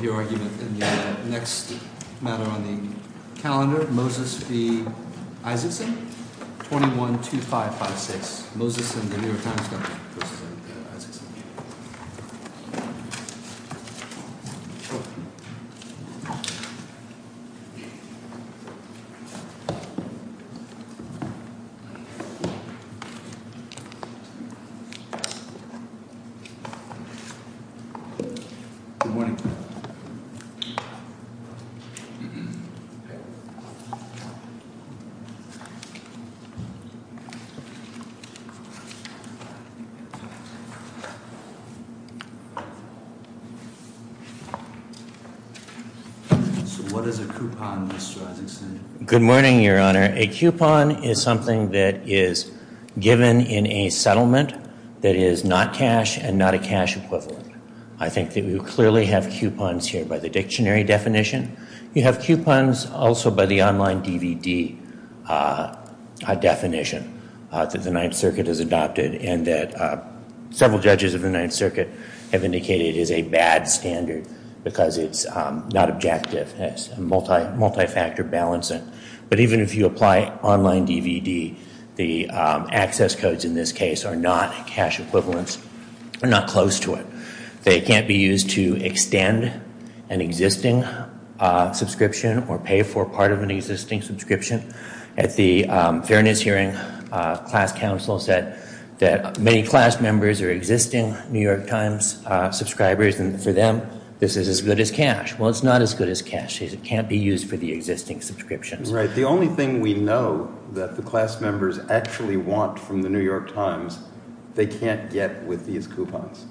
The next matter on the calendar, Moses v. Isaacson, 21-2556, Moses and the New York Times Company versus Isaacson. Good morning. What is a coupon, Mr. Isaacson? I think that we clearly have coupons here by the dictionary definition. You have coupons also by the online DVD definition that the Ninth Circuit has adopted and that several judges of the Ninth Circuit have indicated is a bad standard because it's not objective. It's a multi-factor balancing. But even if you apply online DVD, the access codes in this case are not cash equivalents. They're not close to it. They can't be used to extend an existing subscription or pay for part of an existing subscription. At the Fairness Hearing, class counsel said that many class members are existing New York Times subscribers and for them, this is as good as cash. Well, it's not as good as cash. It can't be used for the existing subscriptions. Right. The only thing we know that the class members actually want from the New York Times, they can't get with these coupons.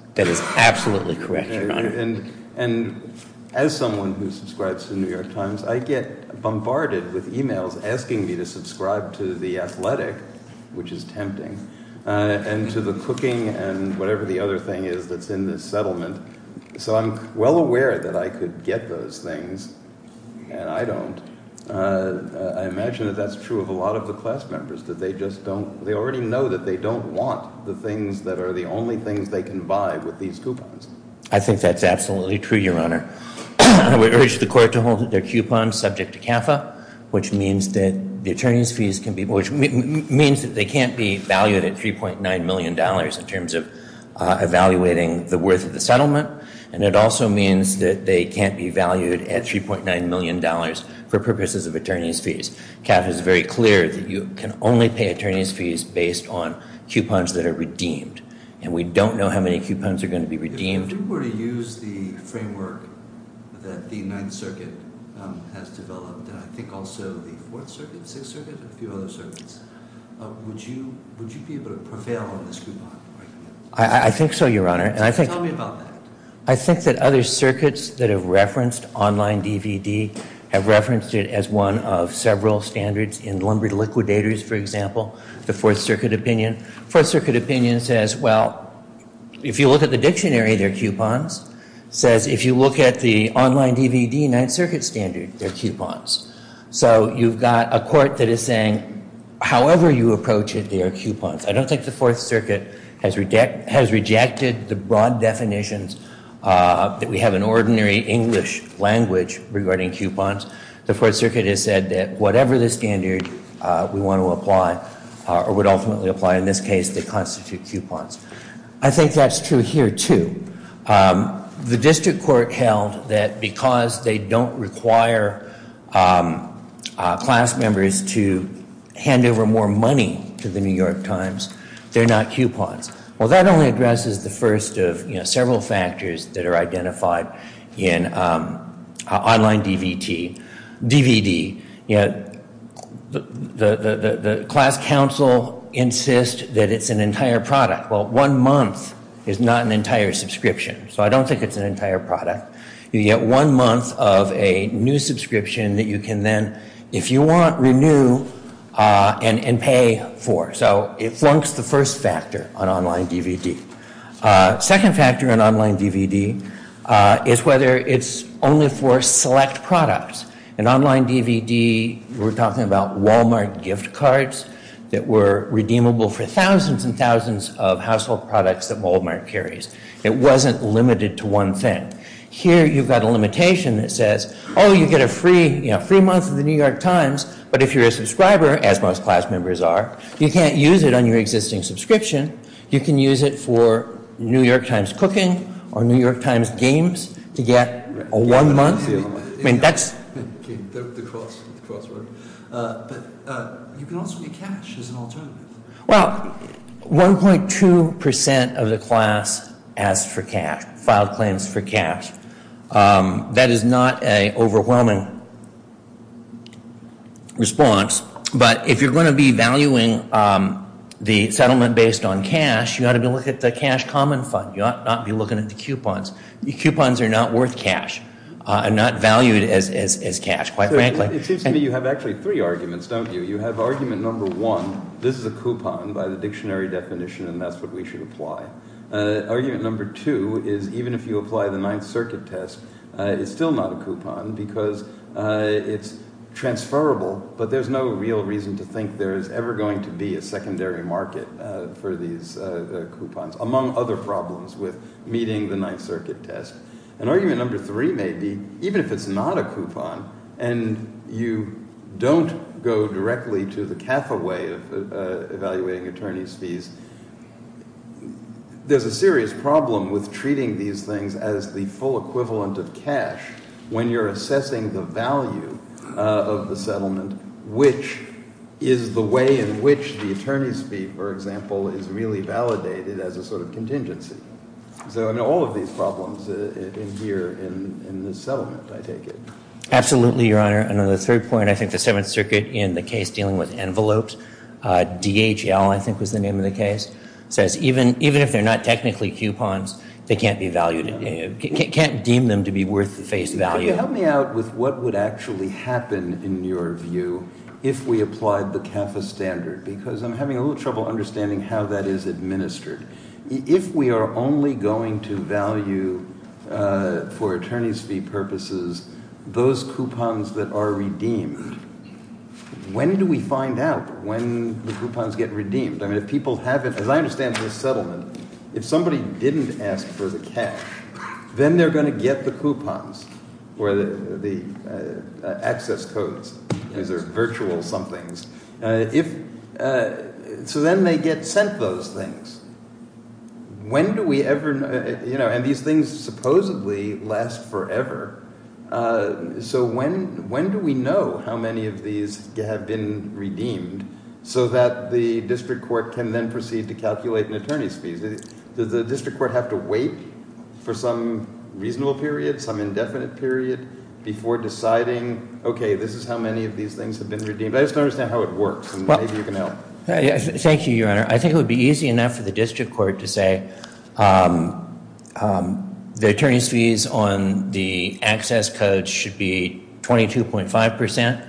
And as someone who subscribes to the New York Times, I get bombarded with emails asking me to subscribe to the athletic, which is tempting, and to the cooking and whatever the other thing is that's in this settlement. So I'm well aware that I could get those things and I don't. I imagine that that's true of a lot of the class members, that they just don't – they already know that they don't want the things that are the only things they can buy with these coupons. I think that's absolutely true, Your Honor. I would urge the court to hold their coupons subject to CAFA, which means that the attorney's fees can be – which means that they can't be valued at $3.9 million in terms of evaluating the worth of the settlement. And it also means that they can't be valued at $3.9 million for purposes of attorney's fees. CAFA is very clear that you can only pay attorney's fees based on coupons that are redeemed. And we don't know how many coupons are going to be redeemed. If you were to use the framework that the Ninth Circuit has developed, and I think also the Fourth Circuit, Sixth Circuit, a few other circuits, would you be able to prevail on this coupon? I think so, Your Honor. Tell me about that. I think that other circuits that have referenced online DVD have referenced it as one of several standards in lumber liquidators, for example, the Fourth Circuit opinion. Fourth Circuit opinion says, well, if you look at the dictionary, they're coupons. It says if you look at the online DVD, Ninth Circuit standard, they're coupons. So you've got a court that is saying however you approach it, they are coupons. I don't think the Fourth Circuit has rejected the broad definitions that we have in ordinary English language regarding coupons. The Fourth Circuit has said that whatever the standard we want to apply, or would ultimately apply in this case, they constitute coupons. I think that's true here, too. The district court held that because they don't require class members to hand over more money to the New York Times, they're not coupons. Well, that only addresses the first of several factors that are identified in online DVD. DVD, the class council insists that it's an entire product. Well, one month is not an entire subscription. So I don't think it's an entire product. You get one month of a new subscription that you can then, if you want, renew and pay for. So it flunks the first factor on online DVD. Second factor on online DVD is whether it's only for select products. In online DVD, we're talking about Walmart gift cards that were redeemable for thousands and thousands of household products that Walmart carries. It wasn't limited to one thing. Here, you've got a limitation that says, oh, you get a free month of the New York Times, but if you're a subscriber, as most class members are, you can't use it on your existing subscription. You can use it for New York Times cooking or New York Times games to get a one month. I mean, that's the crossword. But you can also get cash as an alternative. Well, 1.2 percent of the class asks for cash, filed claims for cash. That is not an overwhelming response. But if you're going to be valuing the settlement based on cash, you ought to be looking at the cash common fund. You ought not be looking at the coupons. Coupons are not worth cash and not valued as cash, quite frankly. It seems to me you have actually three arguments, don't you? You have argument number one. This is a coupon by the dictionary definition, and that's what we should apply. Argument number two is even if you apply the Ninth Circuit test, it's still not a coupon because it's transferable. But there's no real reason to think there is ever going to be a secondary market for these coupons, among other problems with meeting the Ninth Circuit test. And argument number three may be even if it's not a coupon and you don't go directly to the cataway of evaluating attorney's fees, there's a serious problem with treating these things as the full equivalent of cash when you're assessing the value of the settlement, which is the way in which the attorney's fee, for example, is really validated as a sort of contingency. So I know all of these problems adhere in this settlement, I take it. Absolutely, Your Honor. And on the third point, I think the Seventh Circuit in the case dealing with envelopes, DHL, I think was the name of the case, says even if they're not technically coupons, they can't be valued, can't deem them to be worth the face value. Can you help me out with what would actually happen, in your view, if we applied the CAFA standard? Because I'm having a little trouble understanding how that is administered. If we are only going to value for attorney's fee purposes those coupons that are redeemed, when do we find out when the coupons get redeemed? I mean, if people haven't – as I understand from the settlement, if somebody didn't ask for the cash, then they're going to get the coupons, or the access codes, these are virtual somethings. So then they get sent those things. When do we ever – and these things supposedly last forever. So when do we know how many of these have been redeemed so that the district court can then proceed to calculate an attorney's fees? Does the district court have to wait for some reasonable period, some indefinite period, before deciding, okay, this is how many of these things have been redeemed? I just don't understand how it works, and maybe you can help. Thank you, Your Honor. I think it would be easy enough for the district court to say the attorney's fees on the access codes should be 22.5 percent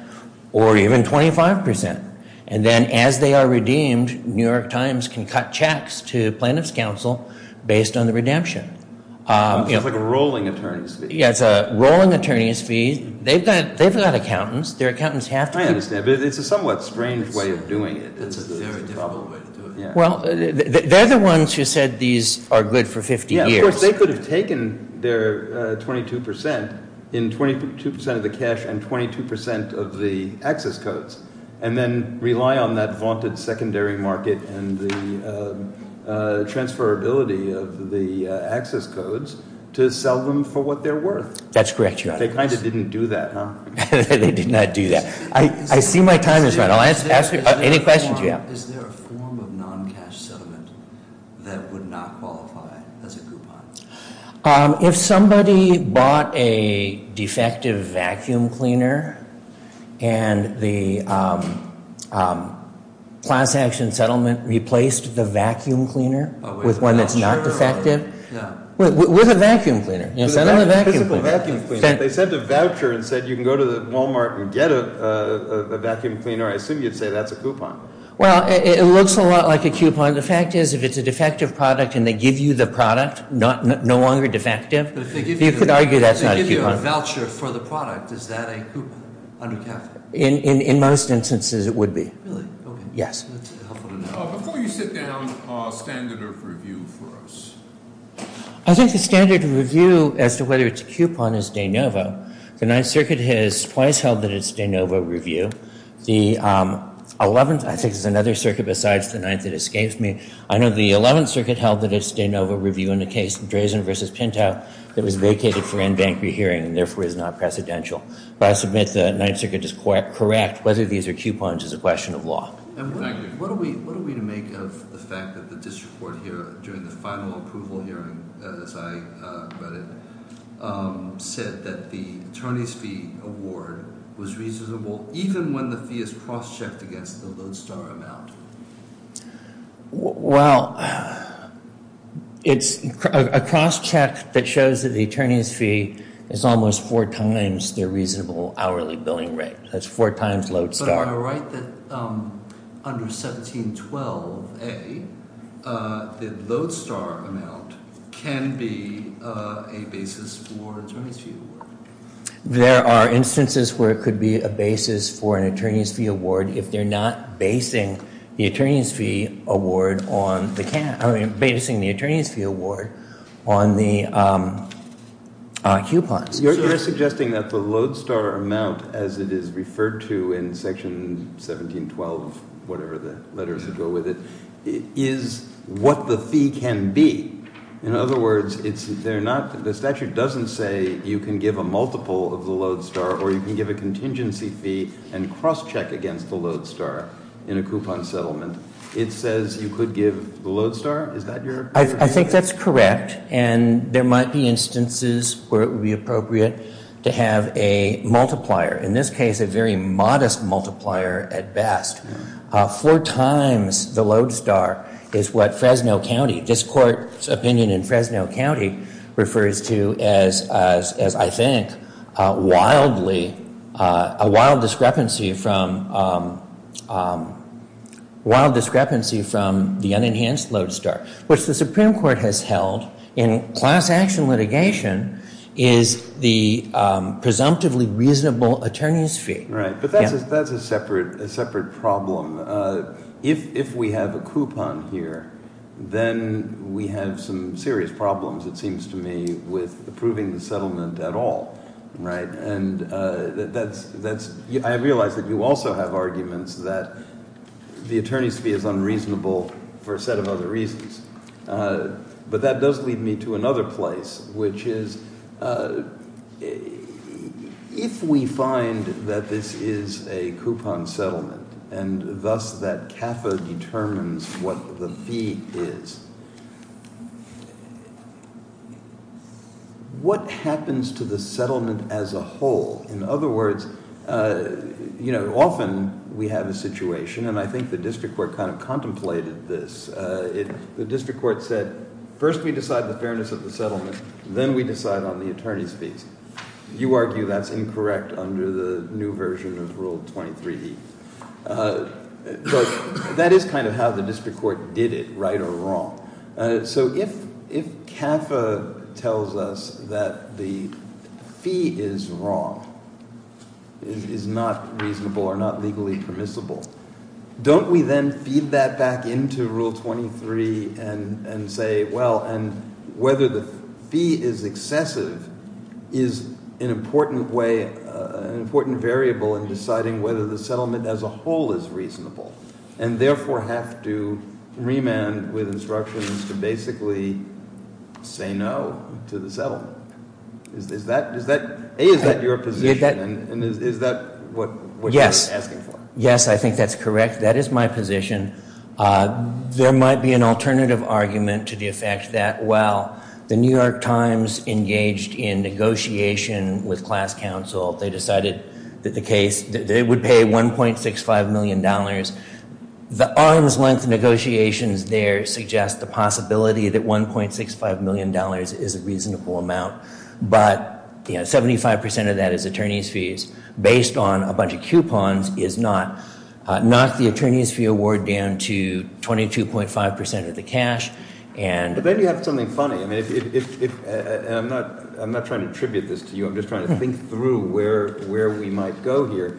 or even 25 percent. And then as they are redeemed, New York Times can cut checks to plaintiff's counsel based on the redemption. It's like a rolling attorney's fee. Yeah, it's a rolling attorney's fee. They've got accountants. Their accountants have to – I understand, but it's a somewhat strange way of doing it. It's a very difficult way to do it. Well, they're the ones who said these are good for 50 years. Of course, they could have taken their 22 percent in 22 percent of the cash and 22 percent of the access codes, and then rely on that vaunted secondary market and the transferability of the access codes to sell them for what they're worth. That's correct, Your Honor. They kind of didn't do that, huh? They did not do that. I see my time has run out. I'll ask any questions you have. Is there a form of non-cash settlement that would not qualify as a coupon? If somebody bought a defective vacuum cleaner and the class action settlement replaced the vacuum cleaner with one that's not defective. With a vacuum cleaner. Send them a vacuum cleaner. They sent a voucher and said you can go to Walmart and get a vacuum cleaner. I assume you'd say that's a coupon. Well, it looks a lot like a coupon. The fact is if it's a defective product and they give you the product, no longer defective, you could argue that's not a coupon. If they give you a voucher for the product, is that a coupon? In most instances, it would be. Really? Yes. Before you sit down, a standard of review for us. I think the standard of review as to whether it's a coupon is de novo. The Ninth Circuit has twice held that it's de novo review. The Eleventh, I think there's another circuit besides the Ninth that escapes me. I know the Eleventh Circuit held that it's de novo review in the case Drazen v. Pinto that was vacated for in-bank rehearing and therefore is not precedential. But I submit the Ninth Circuit is correct whether these are coupons is a question of law. What are we to make of the fact that the district court here during the final approval hearing, as I read it, said that the attorney's fee award was reasonable even when the fee is cross-checked against the Lodestar amount? Well, it's a cross-check that shows that the attorney's fee is almost four times their reasonable hourly billing rate. That's four times Lodestar. But am I right that under 1712A, the Lodestar amount can be a basis for an attorney's fee award? There are instances where it could be a basis for an attorney's fee award if they're not basing the attorney's fee award on the coupons. So you're suggesting that the Lodestar amount, as it is referred to in Section 1712 whatever the letters that go with it, is what the fee can be. In other words, the statute doesn't say you can give a multiple of the Lodestar or you can give a contingency fee and cross-check against the Lodestar in a coupon settlement. It says you could give the Lodestar. Is that your view? I think that's correct. And there might be instances where it would be appropriate to have a multiplier. In this case, a very modest multiplier at best. Four times the Lodestar is what Fresno County, this court's opinion in Fresno County, refers to as, I think, a wild discrepancy from the unenhanced Lodestar. What the Supreme Court has held in class action litigation is the presumptively reasonable attorney's fee. Right. But that's a separate problem. If we have a coupon here, then we have some serious problems, it seems to me, with approving the settlement at all, right? I realize that you also have arguments that the attorney's fee is unreasonable for a set of other reasons. But that does lead me to another place, which is if we find that this is a coupon settlement and thus that CAFA determines what the fee is, what happens to the settlement as a whole? In other words, you know, often we have a situation, and I think the district court kind of contemplated this. The district court said, first we decide the fairness of the settlement, then we decide on the attorney's fees. You argue that's incorrect under the new version of Rule 23E. But that is kind of how the district court did it, right or wrong. So if CAFA tells us that the fee is wrong, is not reasonable or not legally permissible, don't we then feed that back into Rule 23 and say, well, and whether the fee is excessive is an important variable in deciding whether the settlement as a whole is reasonable, and therefore have to remand with instructions to basically say no to the settlement? A, is that your position, and is that what you're asking for? Yes, I think that's correct. That is my position. There might be an alternative argument to the effect that, well, the New York Times engaged in negotiation with class counsel. They decided that the case, they would pay $1.65 million. The arm's length negotiations there suggest the possibility that $1.65 million is a reasonable amount. But, you know, 75% of that is attorney's fees. Based on a bunch of coupons is not. Knock the attorney's fee award down to 22.5% of the cash. But then you have something funny. I'm not trying to attribute this to you. I'm just trying to think through where we might go here.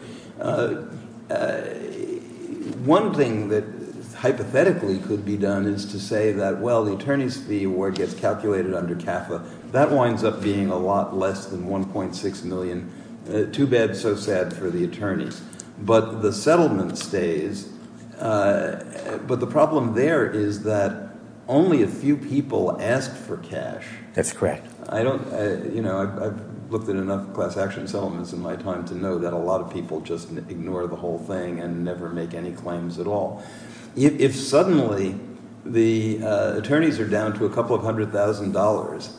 One thing that hypothetically could be done is to say that, well, the attorney's fee award gets calculated under CAFA. That winds up being a lot less than $1.6 million. Too bad, so sad for the attorneys. But the settlement stays. But the problem there is that only a few people asked for cash. That's correct. I don't, you know, I've looked at enough class action settlements in my time to know that a lot of people just ignore the whole thing and never make any claims at all. If suddenly the attorneys are down to a couple of hundred thousand dollars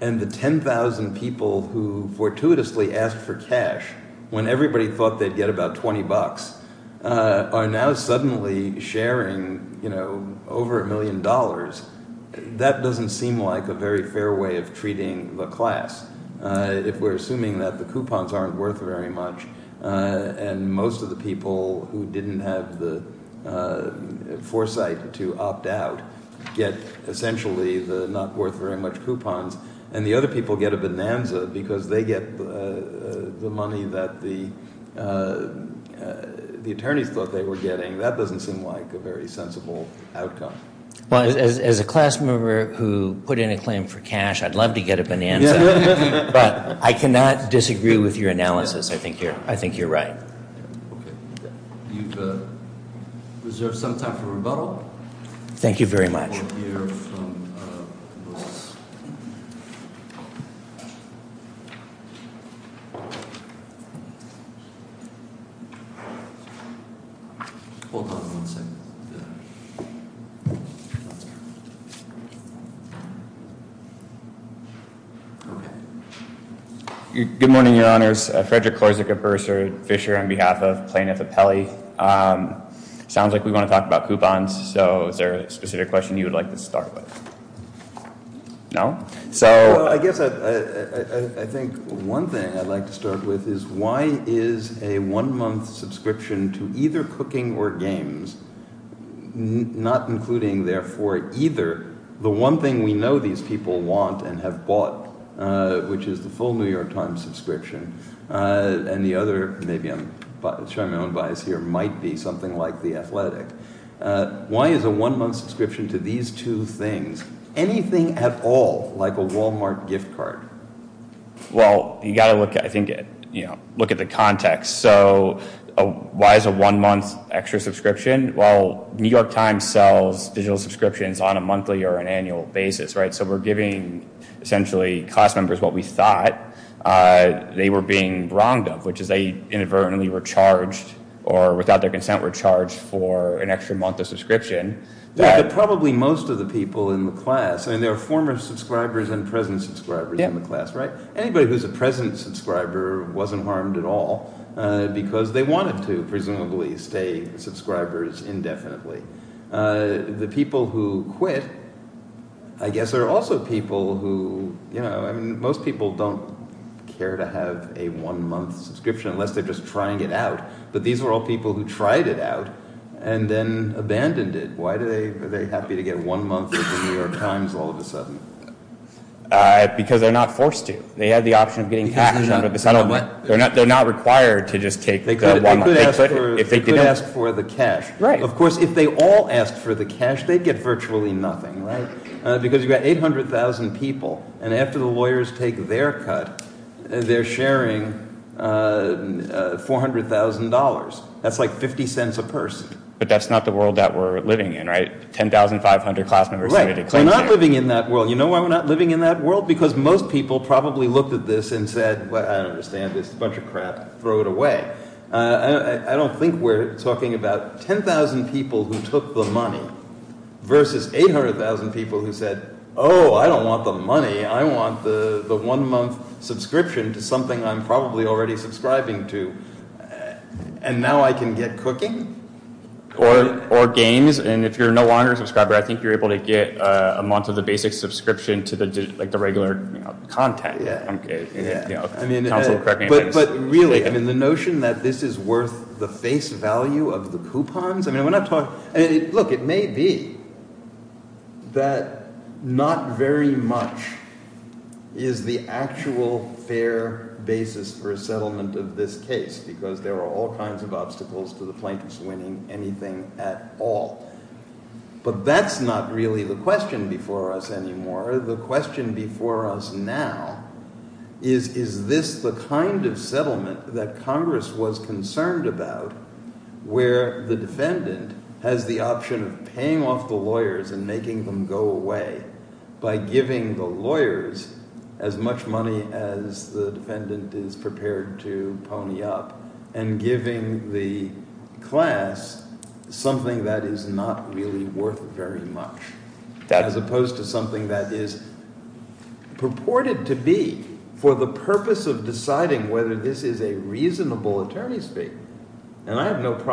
and the 10,000 people who fortuitously asked for cash, when everybody thought they'd get about 20 bucks, are now suddenly sharing, you know, over a million dollars, that doesn't seem like a very fair way of treating the class. If we're assuming that the coupons aren't worth very much and most of the people who didn't have the foresight to opt out get essentially the not worth very much coupons and the other people get a bonanza because they get the money that the attorneys thought they were getting, that doesn't seem like a very sensible outcome. As a class member who put in a claim for cash, I'd love to get a bonanza. But I cannot disagree with your analysis. I think you're right. Okay. You've reserved some time for rebuttal. Thank you very much. Hold on one second. Good morning, Your Honors. Frederick Corsica Bursar Fisher on behalf of Plaintiff Appellee. Sounds like we want to talk about coupons. So is there a specific question you would like to start with? No? So I guess I think one thing I'd like to start with is why is a one-month subscription to either cooking or games, not including therefore either, the one thing we know these people want and have bought, which is the full New York Times subscription, and the other, maybe I'm showing my own bias here, might be something like the athletic. Why is a one-month subscription to these two things? Anything at all like a Walmart gift card? Well, you've got to look at the context. So why is a one-month extra subscription? Well, New York Times sells digital subscriptions on a monthly or an annual basis, right? So we're giving, essentially, class members what we thought they were being wronged of, which is they inadvertently were charged or without their consent were charged for an extra month of subscription. But probably most of the people in the class, I mean, there are former subscribers and present subscribers in the class, right? Anybody who's a present subscriber wasn't harmed at all because they wanted to, presumably, stay subscribers indefinitely. The people who quit, I guess, are also people who, you know, I mean, most people don't care to have a one-month subscription unless they're just trying it out. But these were all people who tried it out and then abandoned it. Why are they happy to get one month of the New York Times all of a sudden? Because they're not forced to. They had the option of getting cash out of the settlement. They're not required to just take the one-month. They could ask for the cash. Of course, if they all asked for the cash, they'd get virtually nothing, right? Because you've got 800,000 people, and after the lawyers take their cut, they're sharing $400,000. That's like 50 cents a person. But that's not the world that we're living in, right? 10,500 class members. We're not living in that world. You know why we're not living in that world? Because most people probably looked at this and said, well, I don't understand this. It's a bunch of crap. Throw it away. I don't think we're talking about 10,000 people who took the money versus 800,000 people who said, oh, I don't want the money. I want the one-month subscription to something I'm probably already subscribing to. And now I can get cooking? Or games. And if you're no longer a subscriber, I think you're able to get a month of the basic subscription to the regular content. But really, the notion that this is worth the face value of the coupons. Look, it may be that not very much is the actual fair basis for a settlement of this case, because there are all kinds of obstacles to the plaintiffs winning anything at all. But that's not really the question before us anymore. The question before us now is, is this the kind of settlement that Congress was concerned about where the defendant has the option of paying off the lawyers and making them go away by giving the lawyers as much money as the defendant is prepared to pony up and giving the class something that is not really worth very much? As opposed to something that is purported to be for the purpose of deciding whether this is a reasonable attorney's fee. But I'm having a lot of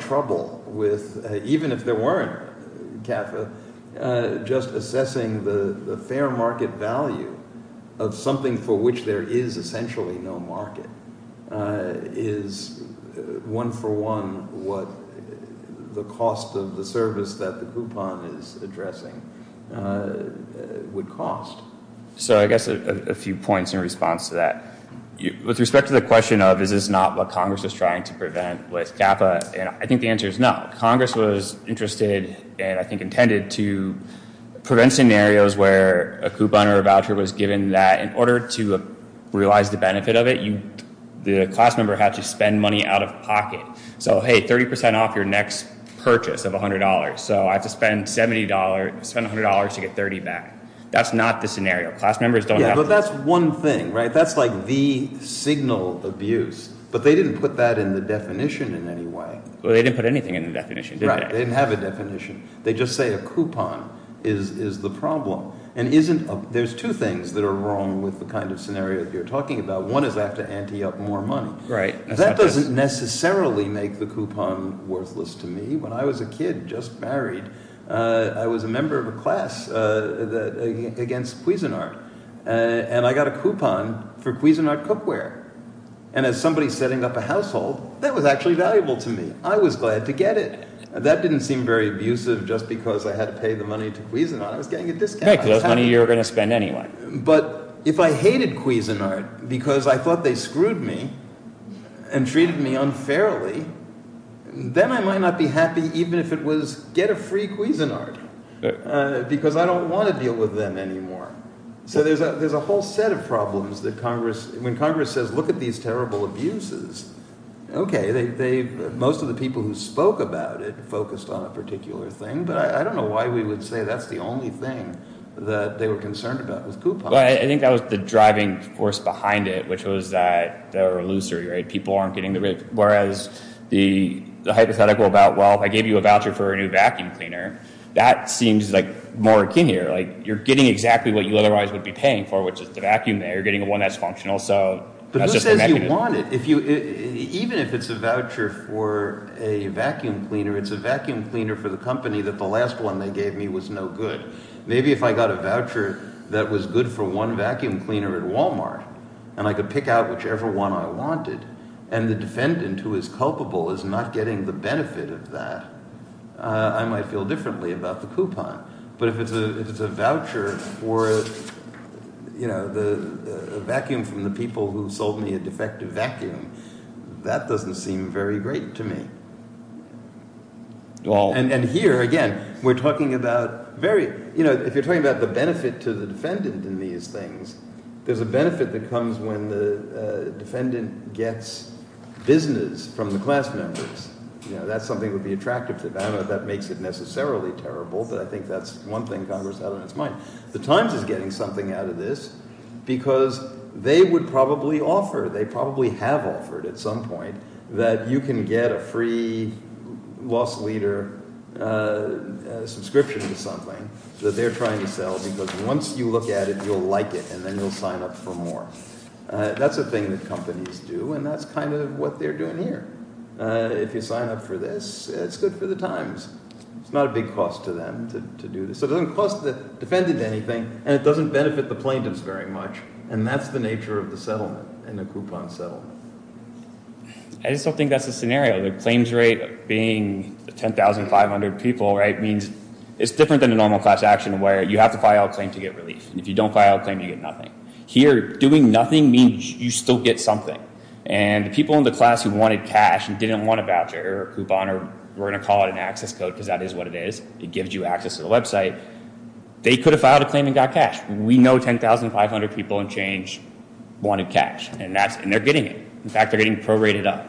trouble with, even if there weren't CAFA, just assessing the fair market value of something for which there is essentially no market is one for one what the cost of the service that the coupon is addressing would cost. So I guess a few points in response to that. With respect to the question of is this not what Congress is trying to prevent with CAFA, I think the answer is no. Congress was interested and I think intended to prevent scenarios where a coupon or a voucher was given that in order to realize the benefit of it, the class member had to spend money out of pocket. So hey, 30% off your next purchase of $100. So I have to spend $100 to get $30 back. That's not the scenario. Class members don't have to. Yeah, but that's one thing, right? That's like the signal abuse. But they didn't put that in the definition in any way. Well, they didn't put anything in the definition, did they? Right. They didn't have a definition. They just say a coupon is the problem. And there's two things that are wrong with the kind of scenario that you're talking about. One is I have to ante up more money. Right. That doesn't necessarily make the coupon worthless to me. When I was a kid, just married, I was a member of a class against Cuisinart. And I got a coupon for Cuisinart cookware. And as somebody setting up a household, that was actually valuable to me. I was glad to get it. That didn't seem very abusive just because I had to pay the money to Cuisinart. I was getting a discount. Right, because that's money you were going to spend anyway. But if I hated Cuisinart because I thought they screwed me and treated me unfairly, then I might not be happy even if it was get a free Cuisinart because I don't want to deal with them anymore. So there's a whole set of problems that Congress – when Congress says look at these terrible abuses, okay, most of the people who spoke about it focused on a particular thing. But I don't know why we would say that's the only thing that they were concerned about with coupons. I think that was the driving force behind it, which was that they were illusory. People aren't getting the – whereas the hypothetical about, well, I gave you a voucher for a new vacuum cleaner, that seems like more akin here. Like you're getting exactly what you otherwise would be paying for, which is the vacuum there. You're getting one that's functional. So that's just the mechanism. But who says you want it? Even if it's a voucher for a vacuum cleaner, it's a vacuum cleaner for the company that the last one they gave me was no good. Maybe if I got a voucher that was good for one vacuum cleaner at Walmart and I could pick out whichever one I wanted and the defendant who is culpable is not getting the benefit of that, I might feel differently about the coupon. But if it's a voucher for a vacuum from the people who sold me a defective vacuum, that doesn't seem very great to me. And here, again, we're talking about very – if you're talking about the benefit to the defendant in these things, there's a benefit that comes when the defendant gets business from the class members. That's something that would be attractive to them. I don't know if that makes it necessarily terrible, but I think that's one thing Congress had on its mind. The Times is getting something out of this because they would probably offer – they probably have offered at some point that you can get a free loss leader subscription to something that they're trying to sell because once you look at it, you'll like it, and then you'll sign up for more. That's a thing that companies do, and that's kind of what they're doing here. If you sign up for this, it's good for the Times. It's not a big cost to them to do this. It doesn't cost the defendant anything, and it doesn't benefit the plaintiffs very much, and that's the nature of the settlement in a coupon settlement. I just don't think that's the scenario. The claims rate being 10,500 people, right, means it's different than a normal class action where you have to file a claim to get relief. If you don't file a claim, you get nothing. Here, doing nothing means you still get something. The people in the class who wanted cash and didn't want a voucher or a coupon – we're going to call it an access code because that is what it is. It gives you access to the website. They could have filed a claim and got cash. We know 10,500 people in change wanted cash, and they're getting it. In fact, they're getting prorated up.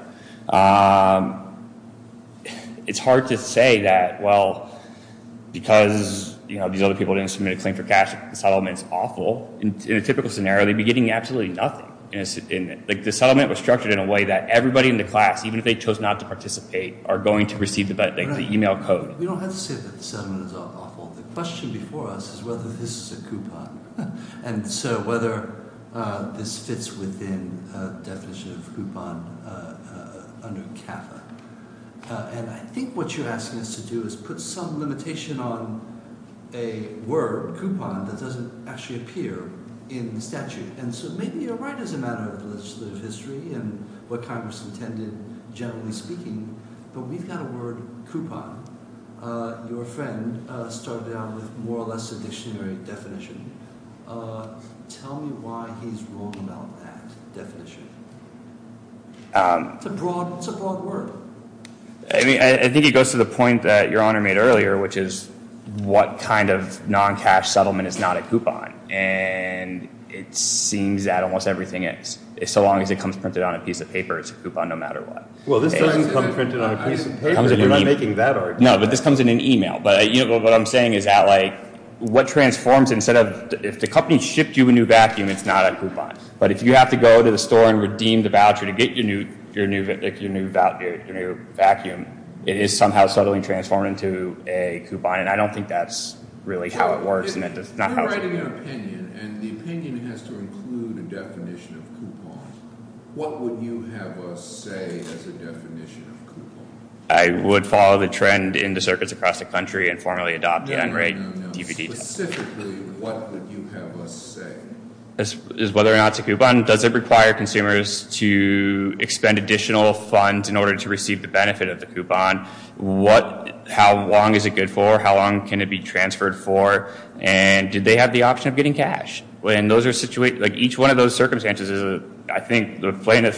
It's hard to say that, well, because these other people didn't submit a claim for cash, the settlement's awful. In a typical scenario, they'd be getting absolutely nothing. The settlement was structured in a way that everybody in the class, even if they chose not to participate, are going to receive the email code. We don't have to say that the settlement is awful. The question before us is whether this is a coupon, and so whether this fits within the definition of coupon under CAFA. And I think what you're asking us to do is put some limitation on a word, coupon, that doesn't actually appear in the statute. And so maybe you're right as a matter of legislative history and what Congress intended, generally speaking, but we've got a word, coupon. Your friend started out with more or less a dictionary definition. Tell me why he's wrong about that definition. It's a broad word. I think it goes to the point that Your Honor made earlier, which is what kind of non-cash settlement is not a coupon. And it seems that almost everything is. So long as it comes printed on a piece of paper, it's a coupon no matter what. Well, this doesn't come printed on a piece of paper. We're not making that argument. No, but this comes in an email. But what I'm saying is that what transforms instead of if the company shipped you a new vacuum, it's not a coupon. But if you have to go to the store and redeem the voucher to get your new vacuum, it is somehow subtly transformed into a coupon. And I don't think that's really how it works. I'm writing an opinion. And the opinion has to include a definition of coupon. What would you have us say as a definition of coupon? I would follow the trend into circuits across the country and formally adopt the NRA DVD. No, no, no. Specifically, what would you have us say? Whether or not it's a coupon. Does it require consumers to expend additional funds in order to receive the benefit of the coupon? How long is it good for? How long can it be transferred for? And did they have the option of getting cash? And each one of those circumstances, I think, goes in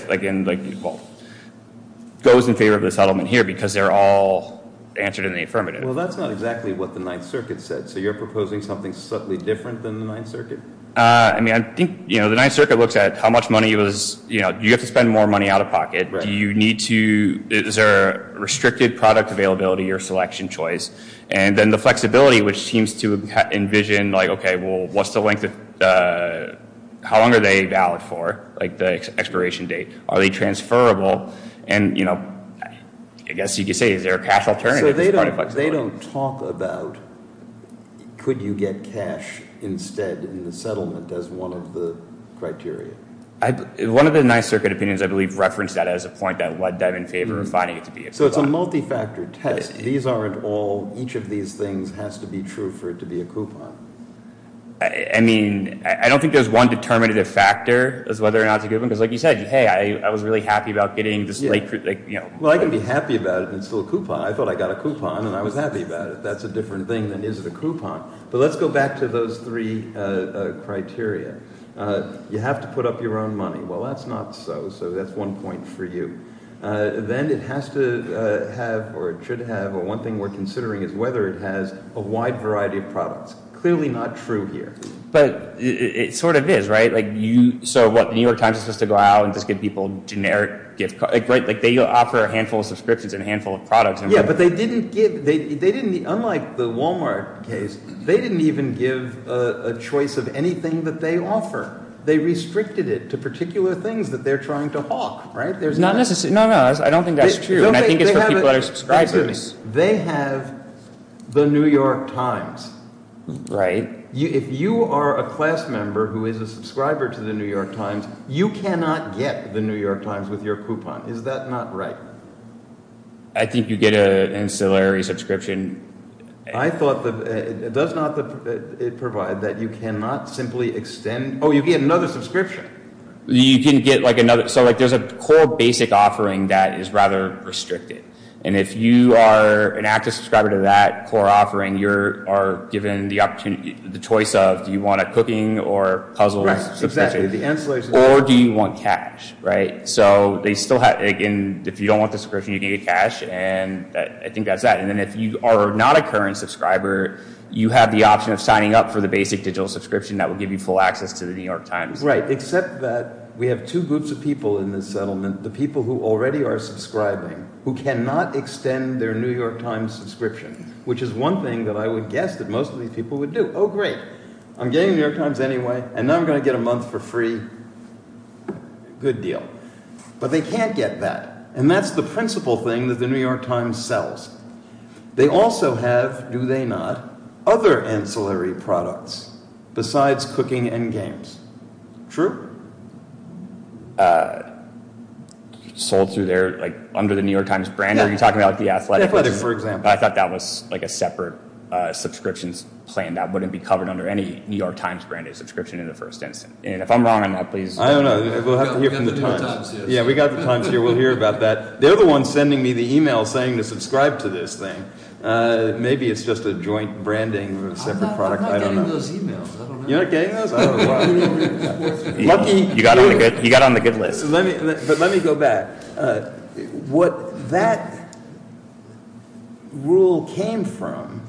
favor of the settlement here because they're all answered in the affirmative. Well, that's not exactly what the Ninth Circuit said. So you're proposing something subtly different than the Ninth Circuit? I mean, I think the Ninth Circuit looks at how much money was, you know, you have to spend more money out of pocket. Do you need to, is there a restricted product availability or selection choice? And then the flexibility, which seems to envision like, okay, well, what's the length of, how long are they valid for? Like the expiration date. Are they transferable? And, you know, I guess you could say is there a cash alternative as part of flexibility? So they don't talk about could you get cash instead in the settlement as one of the criteria? One of the Ninth Circuit opinions, I believe, referenced that as a point that led them in favor of finding it to be expedited. So it's a multi-factor test. These aren't all, each of these things has to be true for it to be a coupon. I mean, I don't think there's one determinative factor as whether or not it's a coupon. Because like you said, hey, I was really happy about getting this like, you know. Well, I can be happy about it and it's still a coupon. I thought I got a coupon and I was happy about it. That's a different thing than is it a coupon. But let's go back to those three criteria. You have to put up your own money. Well, that's not so. So that's one point for you. Then it has to have or it should have or one thing we're considering is whether it has a wide variety of products. Clearly not true here. But it sort of is, right? Like you, so what? The New York Times is supposed to go out and just give people generic gift cards, right? Like they offer a handful of subscriptions and a handful of products. Yeah, but they didn't give, they didn't, unlike the Walmart case, they didn't even give a choice of anything that they offer. They restricted it to particular things that they're trying to hawk, right? Not necessarily. No, no, I don't think that's true. And I think it's for people that are subscribers. They have the New York Times. Right. If you are a class member who is a subscriber to the New York Times, you cannot get the New York Times with your coupon. Is that not right? I think you get an ancillary subscription. I thought that it does not provide that you cannot simply extend. Oh, you get another subscription. You can get like another, so like there's a core basic offering that is rather restricted. And if you are an active subscriber to that core offering, you are given the opportunity, the choice of do you want a cooking or puzzle subscription? Right, exactly, the ancillary subscription. Or do you want cash, right? So they still have, again, if you don't want the subscription, you can get cash. And I think that's that. And then if you are not a current subscriber, you have the option of signing up for the basic digital subscription that will give you full access to the New York Times. Right, except that we have two groups of people in this settlement, the people who already are subscribing, who cannot extend their New York Times subscription, which is one thing that I would guess that most of these people would do. Oh, great. I'm getting the New York Times anyway, and now I'm going to get a month for free. Good deal. But they can't get that. And that's the principal thing that the New York Times sells. They also have, do they not, other ancillary products besides cooking and games. True. Sold through their, like, under the New York Times brand? Yeah. Are you talking about, like, the athletics? Athletics, for example. I thought that was, like, a separate subscriptions plan that wouldn't be covered under any New York Times branded subscription in the first instance. And if I'm wrong on that, please. I don't know. We'll have to hear from the Times. We've got the New York Times here. Yeah, we've got the Times here. We'll hear about that. They're the ones sending me the e-mail saying to subscribe to this thing. Maybe it's just a joint branding of a separate product. I'm not getting those e-mails. I don't know. You're not getting those? I don't know why. You got on the good list. But let me go back. What that rule came from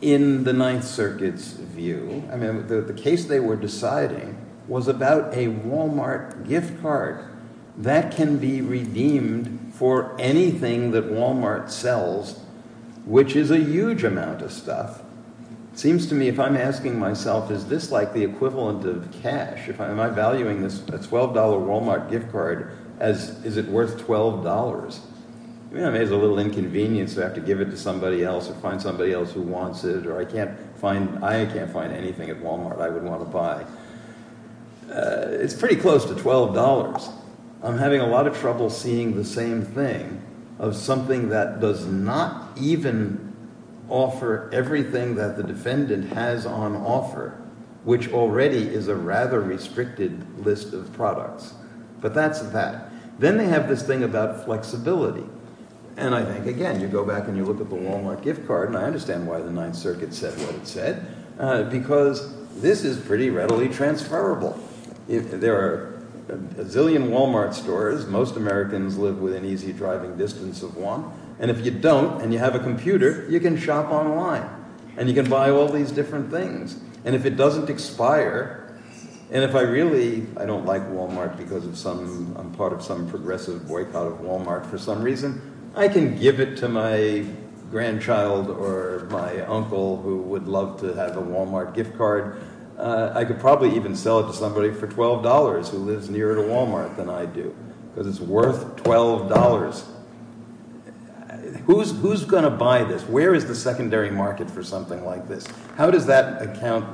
in the Ninth Circuit's view, I mean, the case they were deciding was about a Walmart gift card that can be redeemed for anything that Walmart sells, which is a huge amount of stuff. It seems to me, if I'm asking myself, is this like the equivalent of cash? Am I valuing a $12 Walmart gift card as is it worth $12? I mean, I may have a little inconvenience to have to give it to somebody else or find somebody else who wants it, or I can't find anything at Walmart I would want to buy. It's pretty close to $12. I'm having a lot of trouble seeing the same thing of something that does not even offer everything that the defendant has on offer, which already is a rather restricted list of products. But that's that. Then they have this thing about flexibility. And I think, again, you go back and you look at the Walmart gift card, and I understand why the Ninth Circuit said what it said, because this is pretty readily transferable. There are a zillion Walmart stores. Most Americans live within easy driving distance of one. And if you don't and you have a computer, you can shop online and you can buy all these different things. And if it doesn't expire and if I really I don't like Walmart because of some I'm part of some progressive boycott of Walmart for some reason, I can give it to my grandchild or my uncle who would love to have a Walmart gift card. I could probably even sell it to somebody for $12 who lives nearer to Walmart than I do because it's worth $12. Who's going to buy this? Where is the secondary market for something like this? How does that account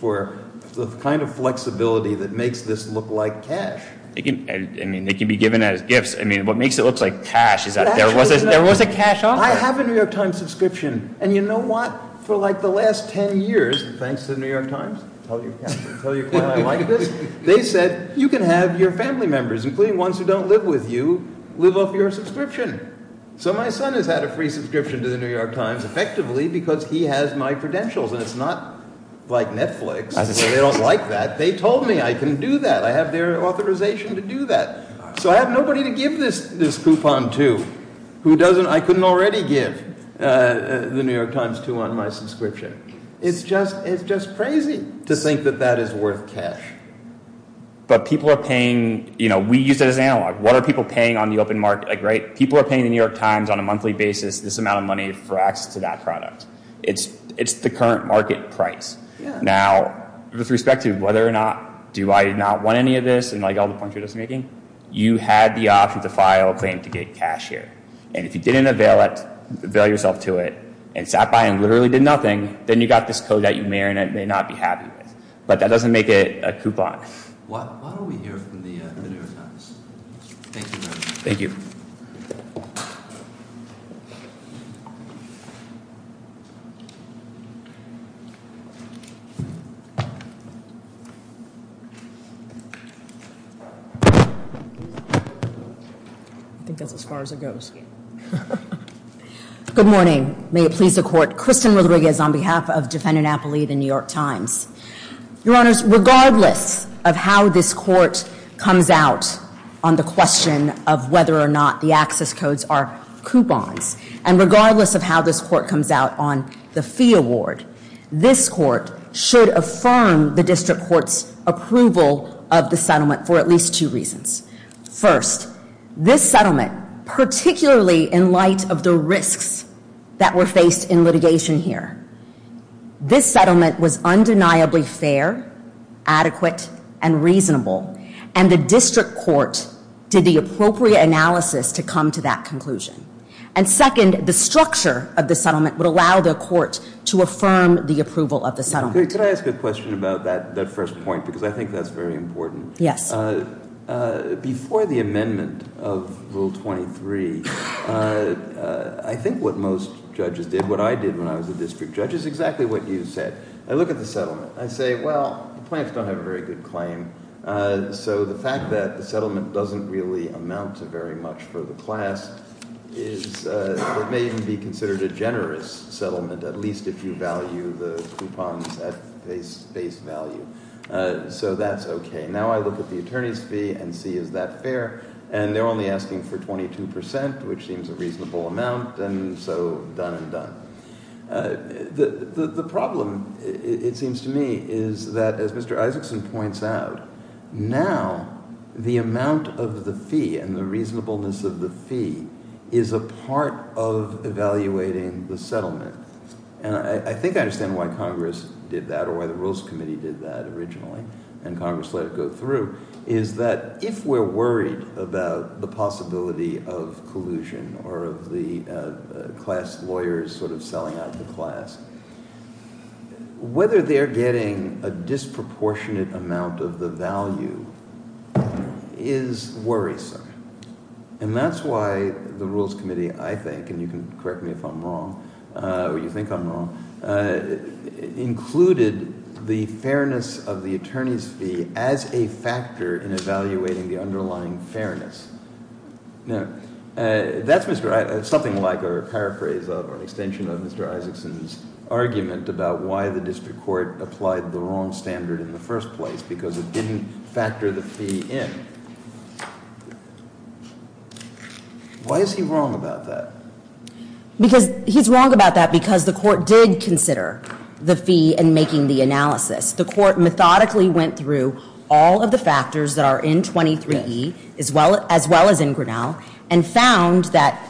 for the kind of flexibility that makes this look like cash? I mean, it can be given as gifts. I mean, what makes it look like cash is that there was a cash offer. I have a New York Times subscription. And you know what? For like the last 10 years, thanks to the New York Times, they said you can have your family members, including ones who don't live with you, live off your subscription. So my son has had a free subscription to the New York Times effectively because he has my credentials. And it's not like Netflix. They don't like that. They told me I can do that. I have their authorization to do that. So I have nobody to give this coupon to who I couldn't already give the New York Times to on my subscription. It's just crazy to think that that is worth cash. But people are paying, you know, we use it as analog. What are people paying on the open market? People are paying the New York Times on a monthly basis this amount of money for access to that product. It's the current market price. Now, with respect to whether or not do I not want any of this and like all the points you're just making, you had the option to file a claim to get cash here. And if you didn't avail yourself to it and sat by and literally did nothing, then you got this code that you may or may not be happy with. But that doesn't make it a coupon. Why don't we hear from the New York Times? Thank you very much. Thank you. Thank you. I think that's as far as it goes. Good morning. May it please the Court. Kristen Rodriguez on behalf of Defendant Appleby of the New York Times. Your Honors, regardless of how this Court comes out on the question of whether or not the access codes are coupons, and regardless of how this Court comes out on the fee award, this Court should affirm the District Court's approval of the settlement for at least two reasons. First, this settlement, particularly in light of the risks that were faced in litigation here, this settlement was undeniably fair, adequate, and reasonable. And the District Court did the appropriate analysis to come to that conclusion. And second, the structure of the settlement would allow the Court to affirm the approval of the settlement. Could I ask a question about that first point? Because I think that's very important. Yes. Before the amendment of Rule 23, I think what most judges did, what I did when I was a district judge, is exactly what you said. I look at the settlement. I say, well, the plaintiffs don't have a very good claim. So the fact that the settlement doesn't really amount to very much for the class is it may even be considered a generous settlement, at least if you value the coupons at face value. So that's okay. Now I look at the attorney's fee and see is that fair. And they're only asking for 22 percent, which seems a reasonable amount, and so done and done. The problem, it seems to me, is that, as Mr. Isaacson points out, now the amount of the fee and the reasonableness of the fee is a part of evaluating the settlement. And I think I understand why Congress did that or why the Rules Committee did that originally and Congress let it go through, is that if we're worried about the possibility of collusion or of the class lawyers sort of selling out the class, whether they're getting a disproportionate amount of the value is worrisome. And that's why the Rules Committee, I think, and you can correct me if I'm wrong or you think I'm wrong, included the fairness of the attorney's fee as a factor in evaluating the underlying fairness. Now, that's something like a paraphrase of or an extension of Mr. Isaacson's argument about why the district court applied the wrong standard in the first place, because it didn't factor the fee in. Why is he wrong about that? Because he's wrong about that because the court did consider the fee in making the analysis. The court methodically went through all of the factors that are in 23E, as well as in Grinnell, and found that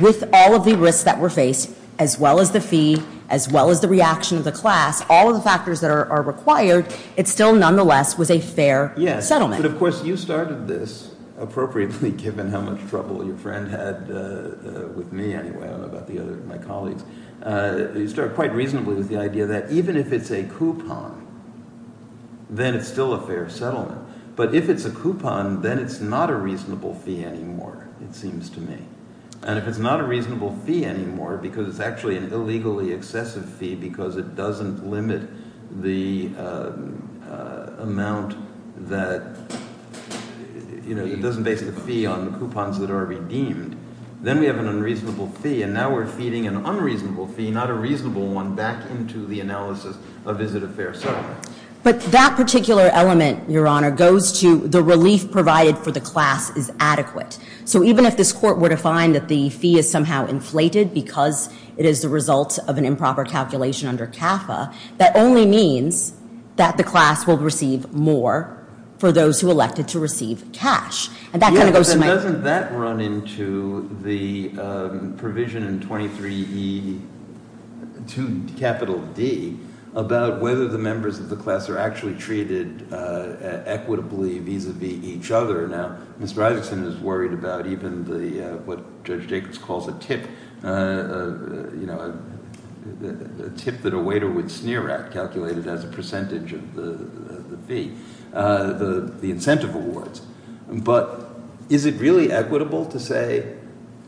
with all of the risks that were faced, as well as the fee, as well as the reaction of the class, all of the factors that are required, it still nonetheless was a fair settlement. Yes, but of course you started this appropriately given how much trouble your friend had with me anyway. I don't know about the other, my colleagues. You start quite reasonably with the idea that even if it's a coupon, then it's still a fair settlement. But if it's a coupon, then it's not a reasonable fee anymore, it seems to me. And if it's not a reasonable fee anymore because it's actually an illegally excessive fee because it doesn't limit the amount that – it doesn't base the fee on the coupons that are redeemed, then we have an unreasonable fee. And now we're feeding an unreasonable fee, not a reasonable one, back into the analysis of is it a fair settlement. But that particular element, Your Honor, goes to the relief provided for the class is adequate. So even if this court were to find that the fee is somehow inflated because it is the result of an improper calculation under CAFA, that only means that the class will receive more for those who elected to receive cash. Yeah, but doesn't that run into the provision in 23E2D about whether the members of the class are actually treated equitably vis-a-vis each other? Now, Ms. Bridegson is worried about even what Judge Jacobs calls a tip, a tip that a waiter would sneer at calculated as a percentage of the fee, the incentive awards. But is it really equitable to say,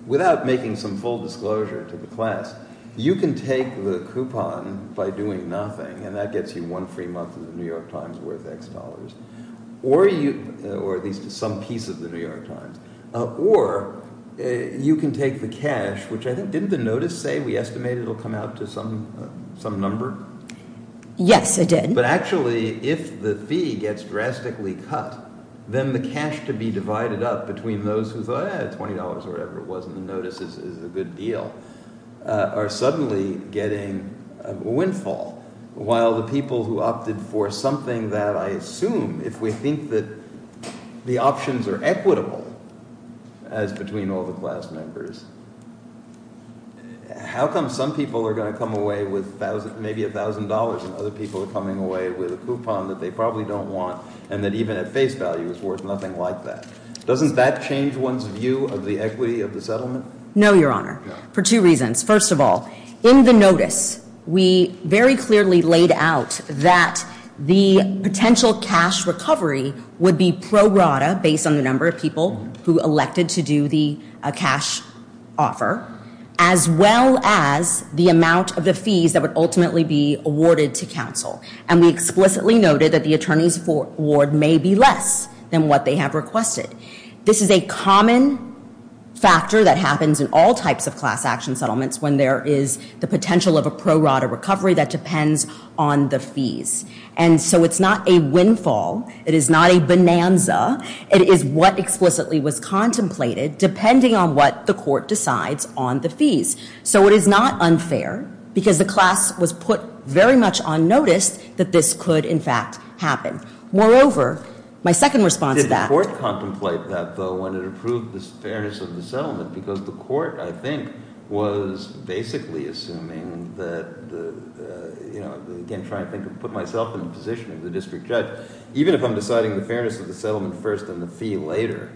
without making some full disclosure to the class, you can take the coupon by doing nothing, and that gets you one free month of the New York Times worth X dollars, or at least some piece of the New York Times. Or you can take the cash, which I think – didn't the notice say we estimate it will come out to some number? Yes, it did. But actually, if the fee gets drastically cut, then the cash to be divided up between those who thought, eh, $20 or whatever it was in the notice is a good deal, are suddenly getting a windfall, while the people who opted for something that I assume, if we think that the options are equitable as between all the class members, how come some people are going to come away with maybe $1,000 and other people are coming away with a coupon that they probably don't want, and that even at face value is worth nothing like that? Doesn't that change one's view of the equity of the settlement? No, Your Honor, for two reasons. First of all, in the notice, we very clearly laid out that the potential cash recovery would be pro rata, based on the number of people who elected to do the cash offer, as well as the amount of the fees that would ultimately be awarded to counsel. And we explicitly noted that the attorney's award may be less than what they have requested. This is a common factor that happens in all types of class action settlements when there is the potential of a pro rata recovery that depends on the fees. And so it's not a windfall. It is not a bonanza. It is what explicitly was contemplated, depending on what the court decides on the fees. So it is not unfair, because the class was put very much on notice that this could, in fact, happen. Moreover, my second response to that was that the court contemplate that, though, when it approved the fairness of the settlement, because the court, I think, was basically assuming that the, you know, again, trying to put myself in the position of the district judge, even if I'm deciding the fairness of the settlement first and the fee later,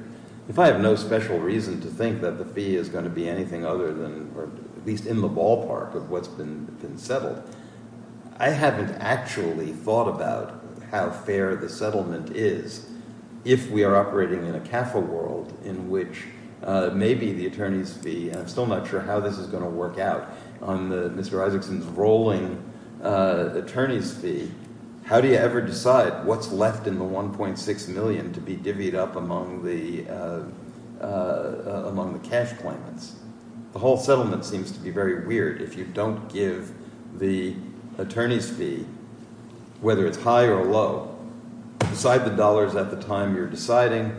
if I have no special reason to think that the fee is going to be anything other than or at least in the ballpark of what's been settled, I haven't actually thought about how fair the settlement is if we are operating in a CAFA world in which maybe the attorney's fee, and I'm still not sure how this is going to work out, on Mr. Isaacson's rolling attorney's fee, how do you ever decide what's left in the $1.6 million to be divvied up among the cash claimants? The whole settlement seems to be very weird if you don't give the attorney's fee, whether it's high or low, decide the dollars at the time you're deciding,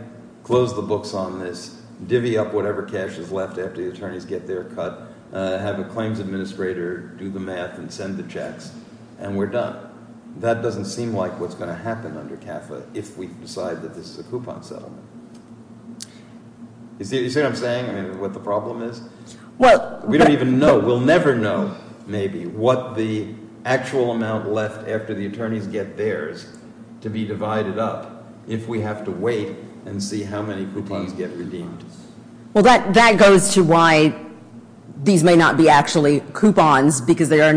close the books on this, divvy up whatever cash is left after the attorneys get their cut, have a claims administrator do the math and send the checks, and we're done. That doesn't seem like what's going to happen under CAFA if we decide that this is a coupon settlement. You see what I'm saying, what the problem is? We don't even know. We'll never know maybe what the actual amount left after the attorneys get theirs to be divided up if we have to wait and see how many coupons get redeemed. Well, that goes to why these may not be actually coupons because there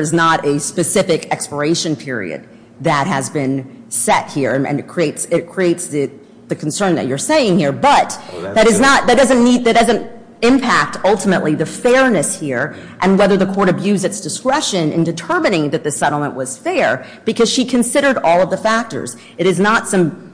is not a specific expiration period that has been set here, and it creates the concern that you're saying here, but that doesn't impact ultimately the fairness here and whether the court abused its discretion in determining that the settlement was fair because she considered all of the factors. It is not some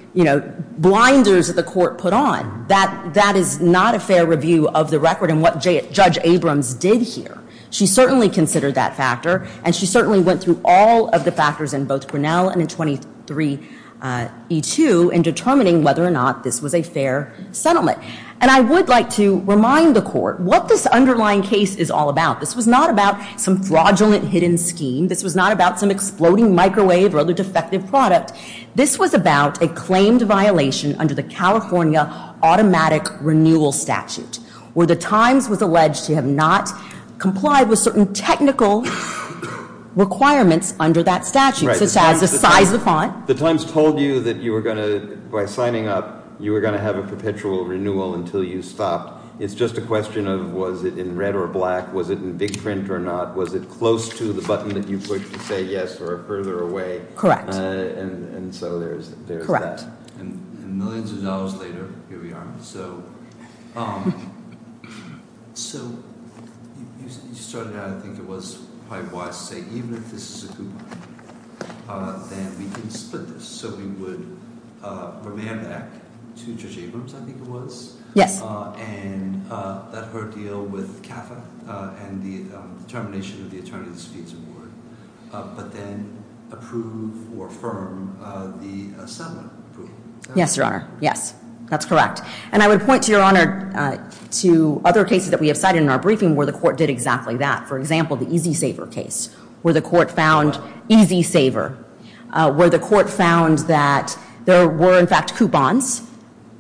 blinders that the court put on. That is not a fair review of the record and what Judge Abrams did here. She certainly considered that factor, and she certainly went through all of the factors in both Grinnell and in 23E2 in determining whether or not this was a fair settlement. And I would like to remind the court what this underlying case is all about. This was not about some fraudulent hidden scheme. This was not about some exploding microwave or other defective product. This was about a claimed violation under the California automatic renewal statute where the Times was alleged to have not complied with certain technical requirements under that statute, such as the size of the font. The Times told you that you were going to, by signing up, you were going to have a perpetual renewal until you stopped. It's just a question of was it in red or black, was it in big print or not, was it close to the button that you pushed to say yes or further away. Correct. And so there's that. Correct. And millions of dollars later, here we are. So you started out, I think it was probably wise to say, even if this is a coupon, then we can split this. So we would remand that to Judge Abrams, I think it was. Yes. And let her deal with CAFA and the termination of the attorney's fees award, but then approve or affirm the settlement. Yes, Your Honor. Yes. That's correct. And I would point, Your Honor, to other cases that we have cited in our briefing where the court did exactly that. For example, the Easy Saver case, where the court found Easy Saver, where the court found that there were, in fact, coupons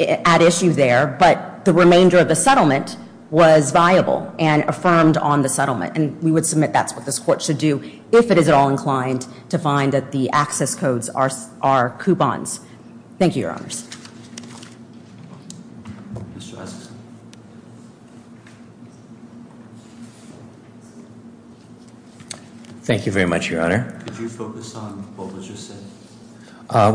at issue there, but the remainder of the settlement was viable and affirmed on the settlement. And we would submit that's what this court should do if it is at all inclined to find that the access codes are coupons. Thank you, Your Honors. Thank you very much, Your Honor. Could you focus on what was just said?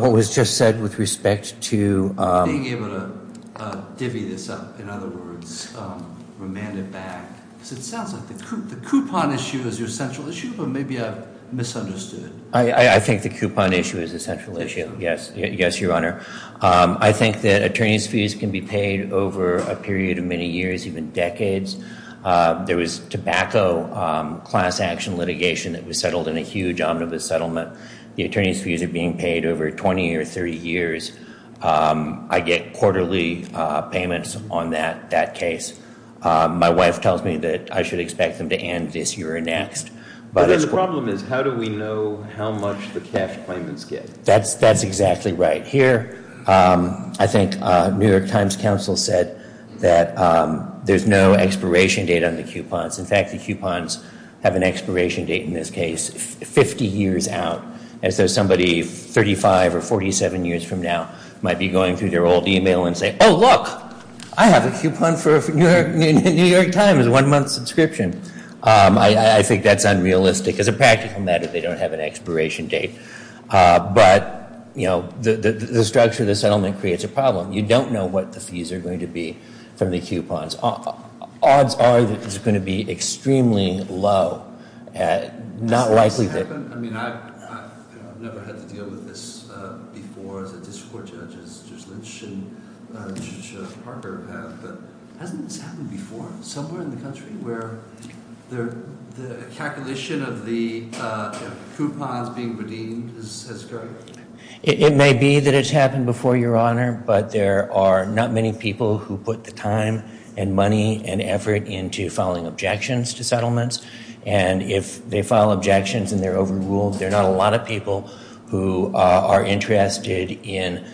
What was just said with respect to? Being able to divvy this up, in other words, remand it back. Because it sounds like the coupon issue is your central issue, but maybe I've misunderstood. I think the coupon issue is a central issue, yes. Yes, Your Honor. I think that attorney's fees can be paid over a period of many years, even decades. There was tobacco class action litigation that was settled in a huge omnibus settlement. The attorney's fees are being paid over 20 or 30 years. I get quarterly payments on that case. My wife tells me that I should expect them to end this year or next. But then the problem is how do we know how much the cash payments get? That's exactly right. Here, I think New York Times Counsel said that there's no expiration date on the coupons. In fact, the coupons have an expiration date in this case 50 years out, as though somebody 35 or 47 years from now might be going through their old e-mail and say, oh, look, I have a coupon for New York Times, a one-month subscription. I think that's unrealistic. As a practical matter, they don't have an expiration date. But, you know, the structure of the settlement creates a problem. You don't know what the fees are going to be from the coupons. Odds are that it's going to be extremely low. Has this happened? I mean, I've never had to deal with this before as a district court judge, as Judge Lynch and Judge Parker have. But hasn't this happened before somewhere in the country where the calculation of the coupons being redeemed has occurred? It may be that it's happened before, Your Honor, but there are not many people who put the time and money and effort into filing objections to settlements. And if they file objections and they're overruled, there are not a lot of people who are interested in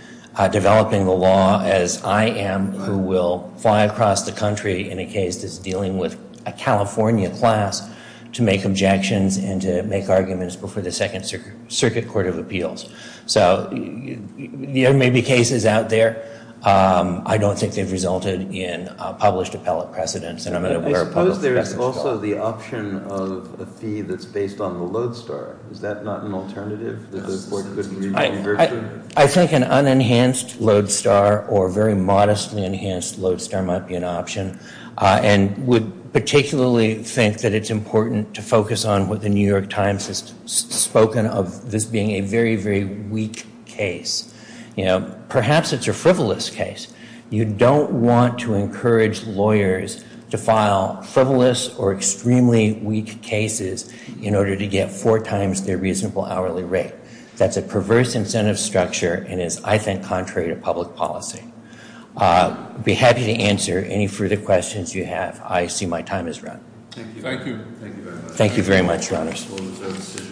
developing the law, as I am, who will fly across the country in a case that's dealing with a California class to make objections and to make arguments before the Second Circuit Court of Appeals. So there may be cases out there. I don't think they've resulted in published appellate precedents. I suppose there is also the option of a fee that's based on the lodestar. Is that not an alternative? I think an unenhanced lodestar or a very modestly enhanced lodestar might be an option and would particularly think that it's important to focus on what the New York Times has spoken of as being a very, very weak case. Perhaps it's a frivolous case. You don't want to encourage lawyers to file frivolous or extremely weak cases in order to get four times their reasonable hourly rate. That's a perverse incentive structure and is, I think, contrary to public policy. I'd be happy to answer any further questions you have. I see my time has run. Thank you. Thank you very much. Thank you very much, Your Honors.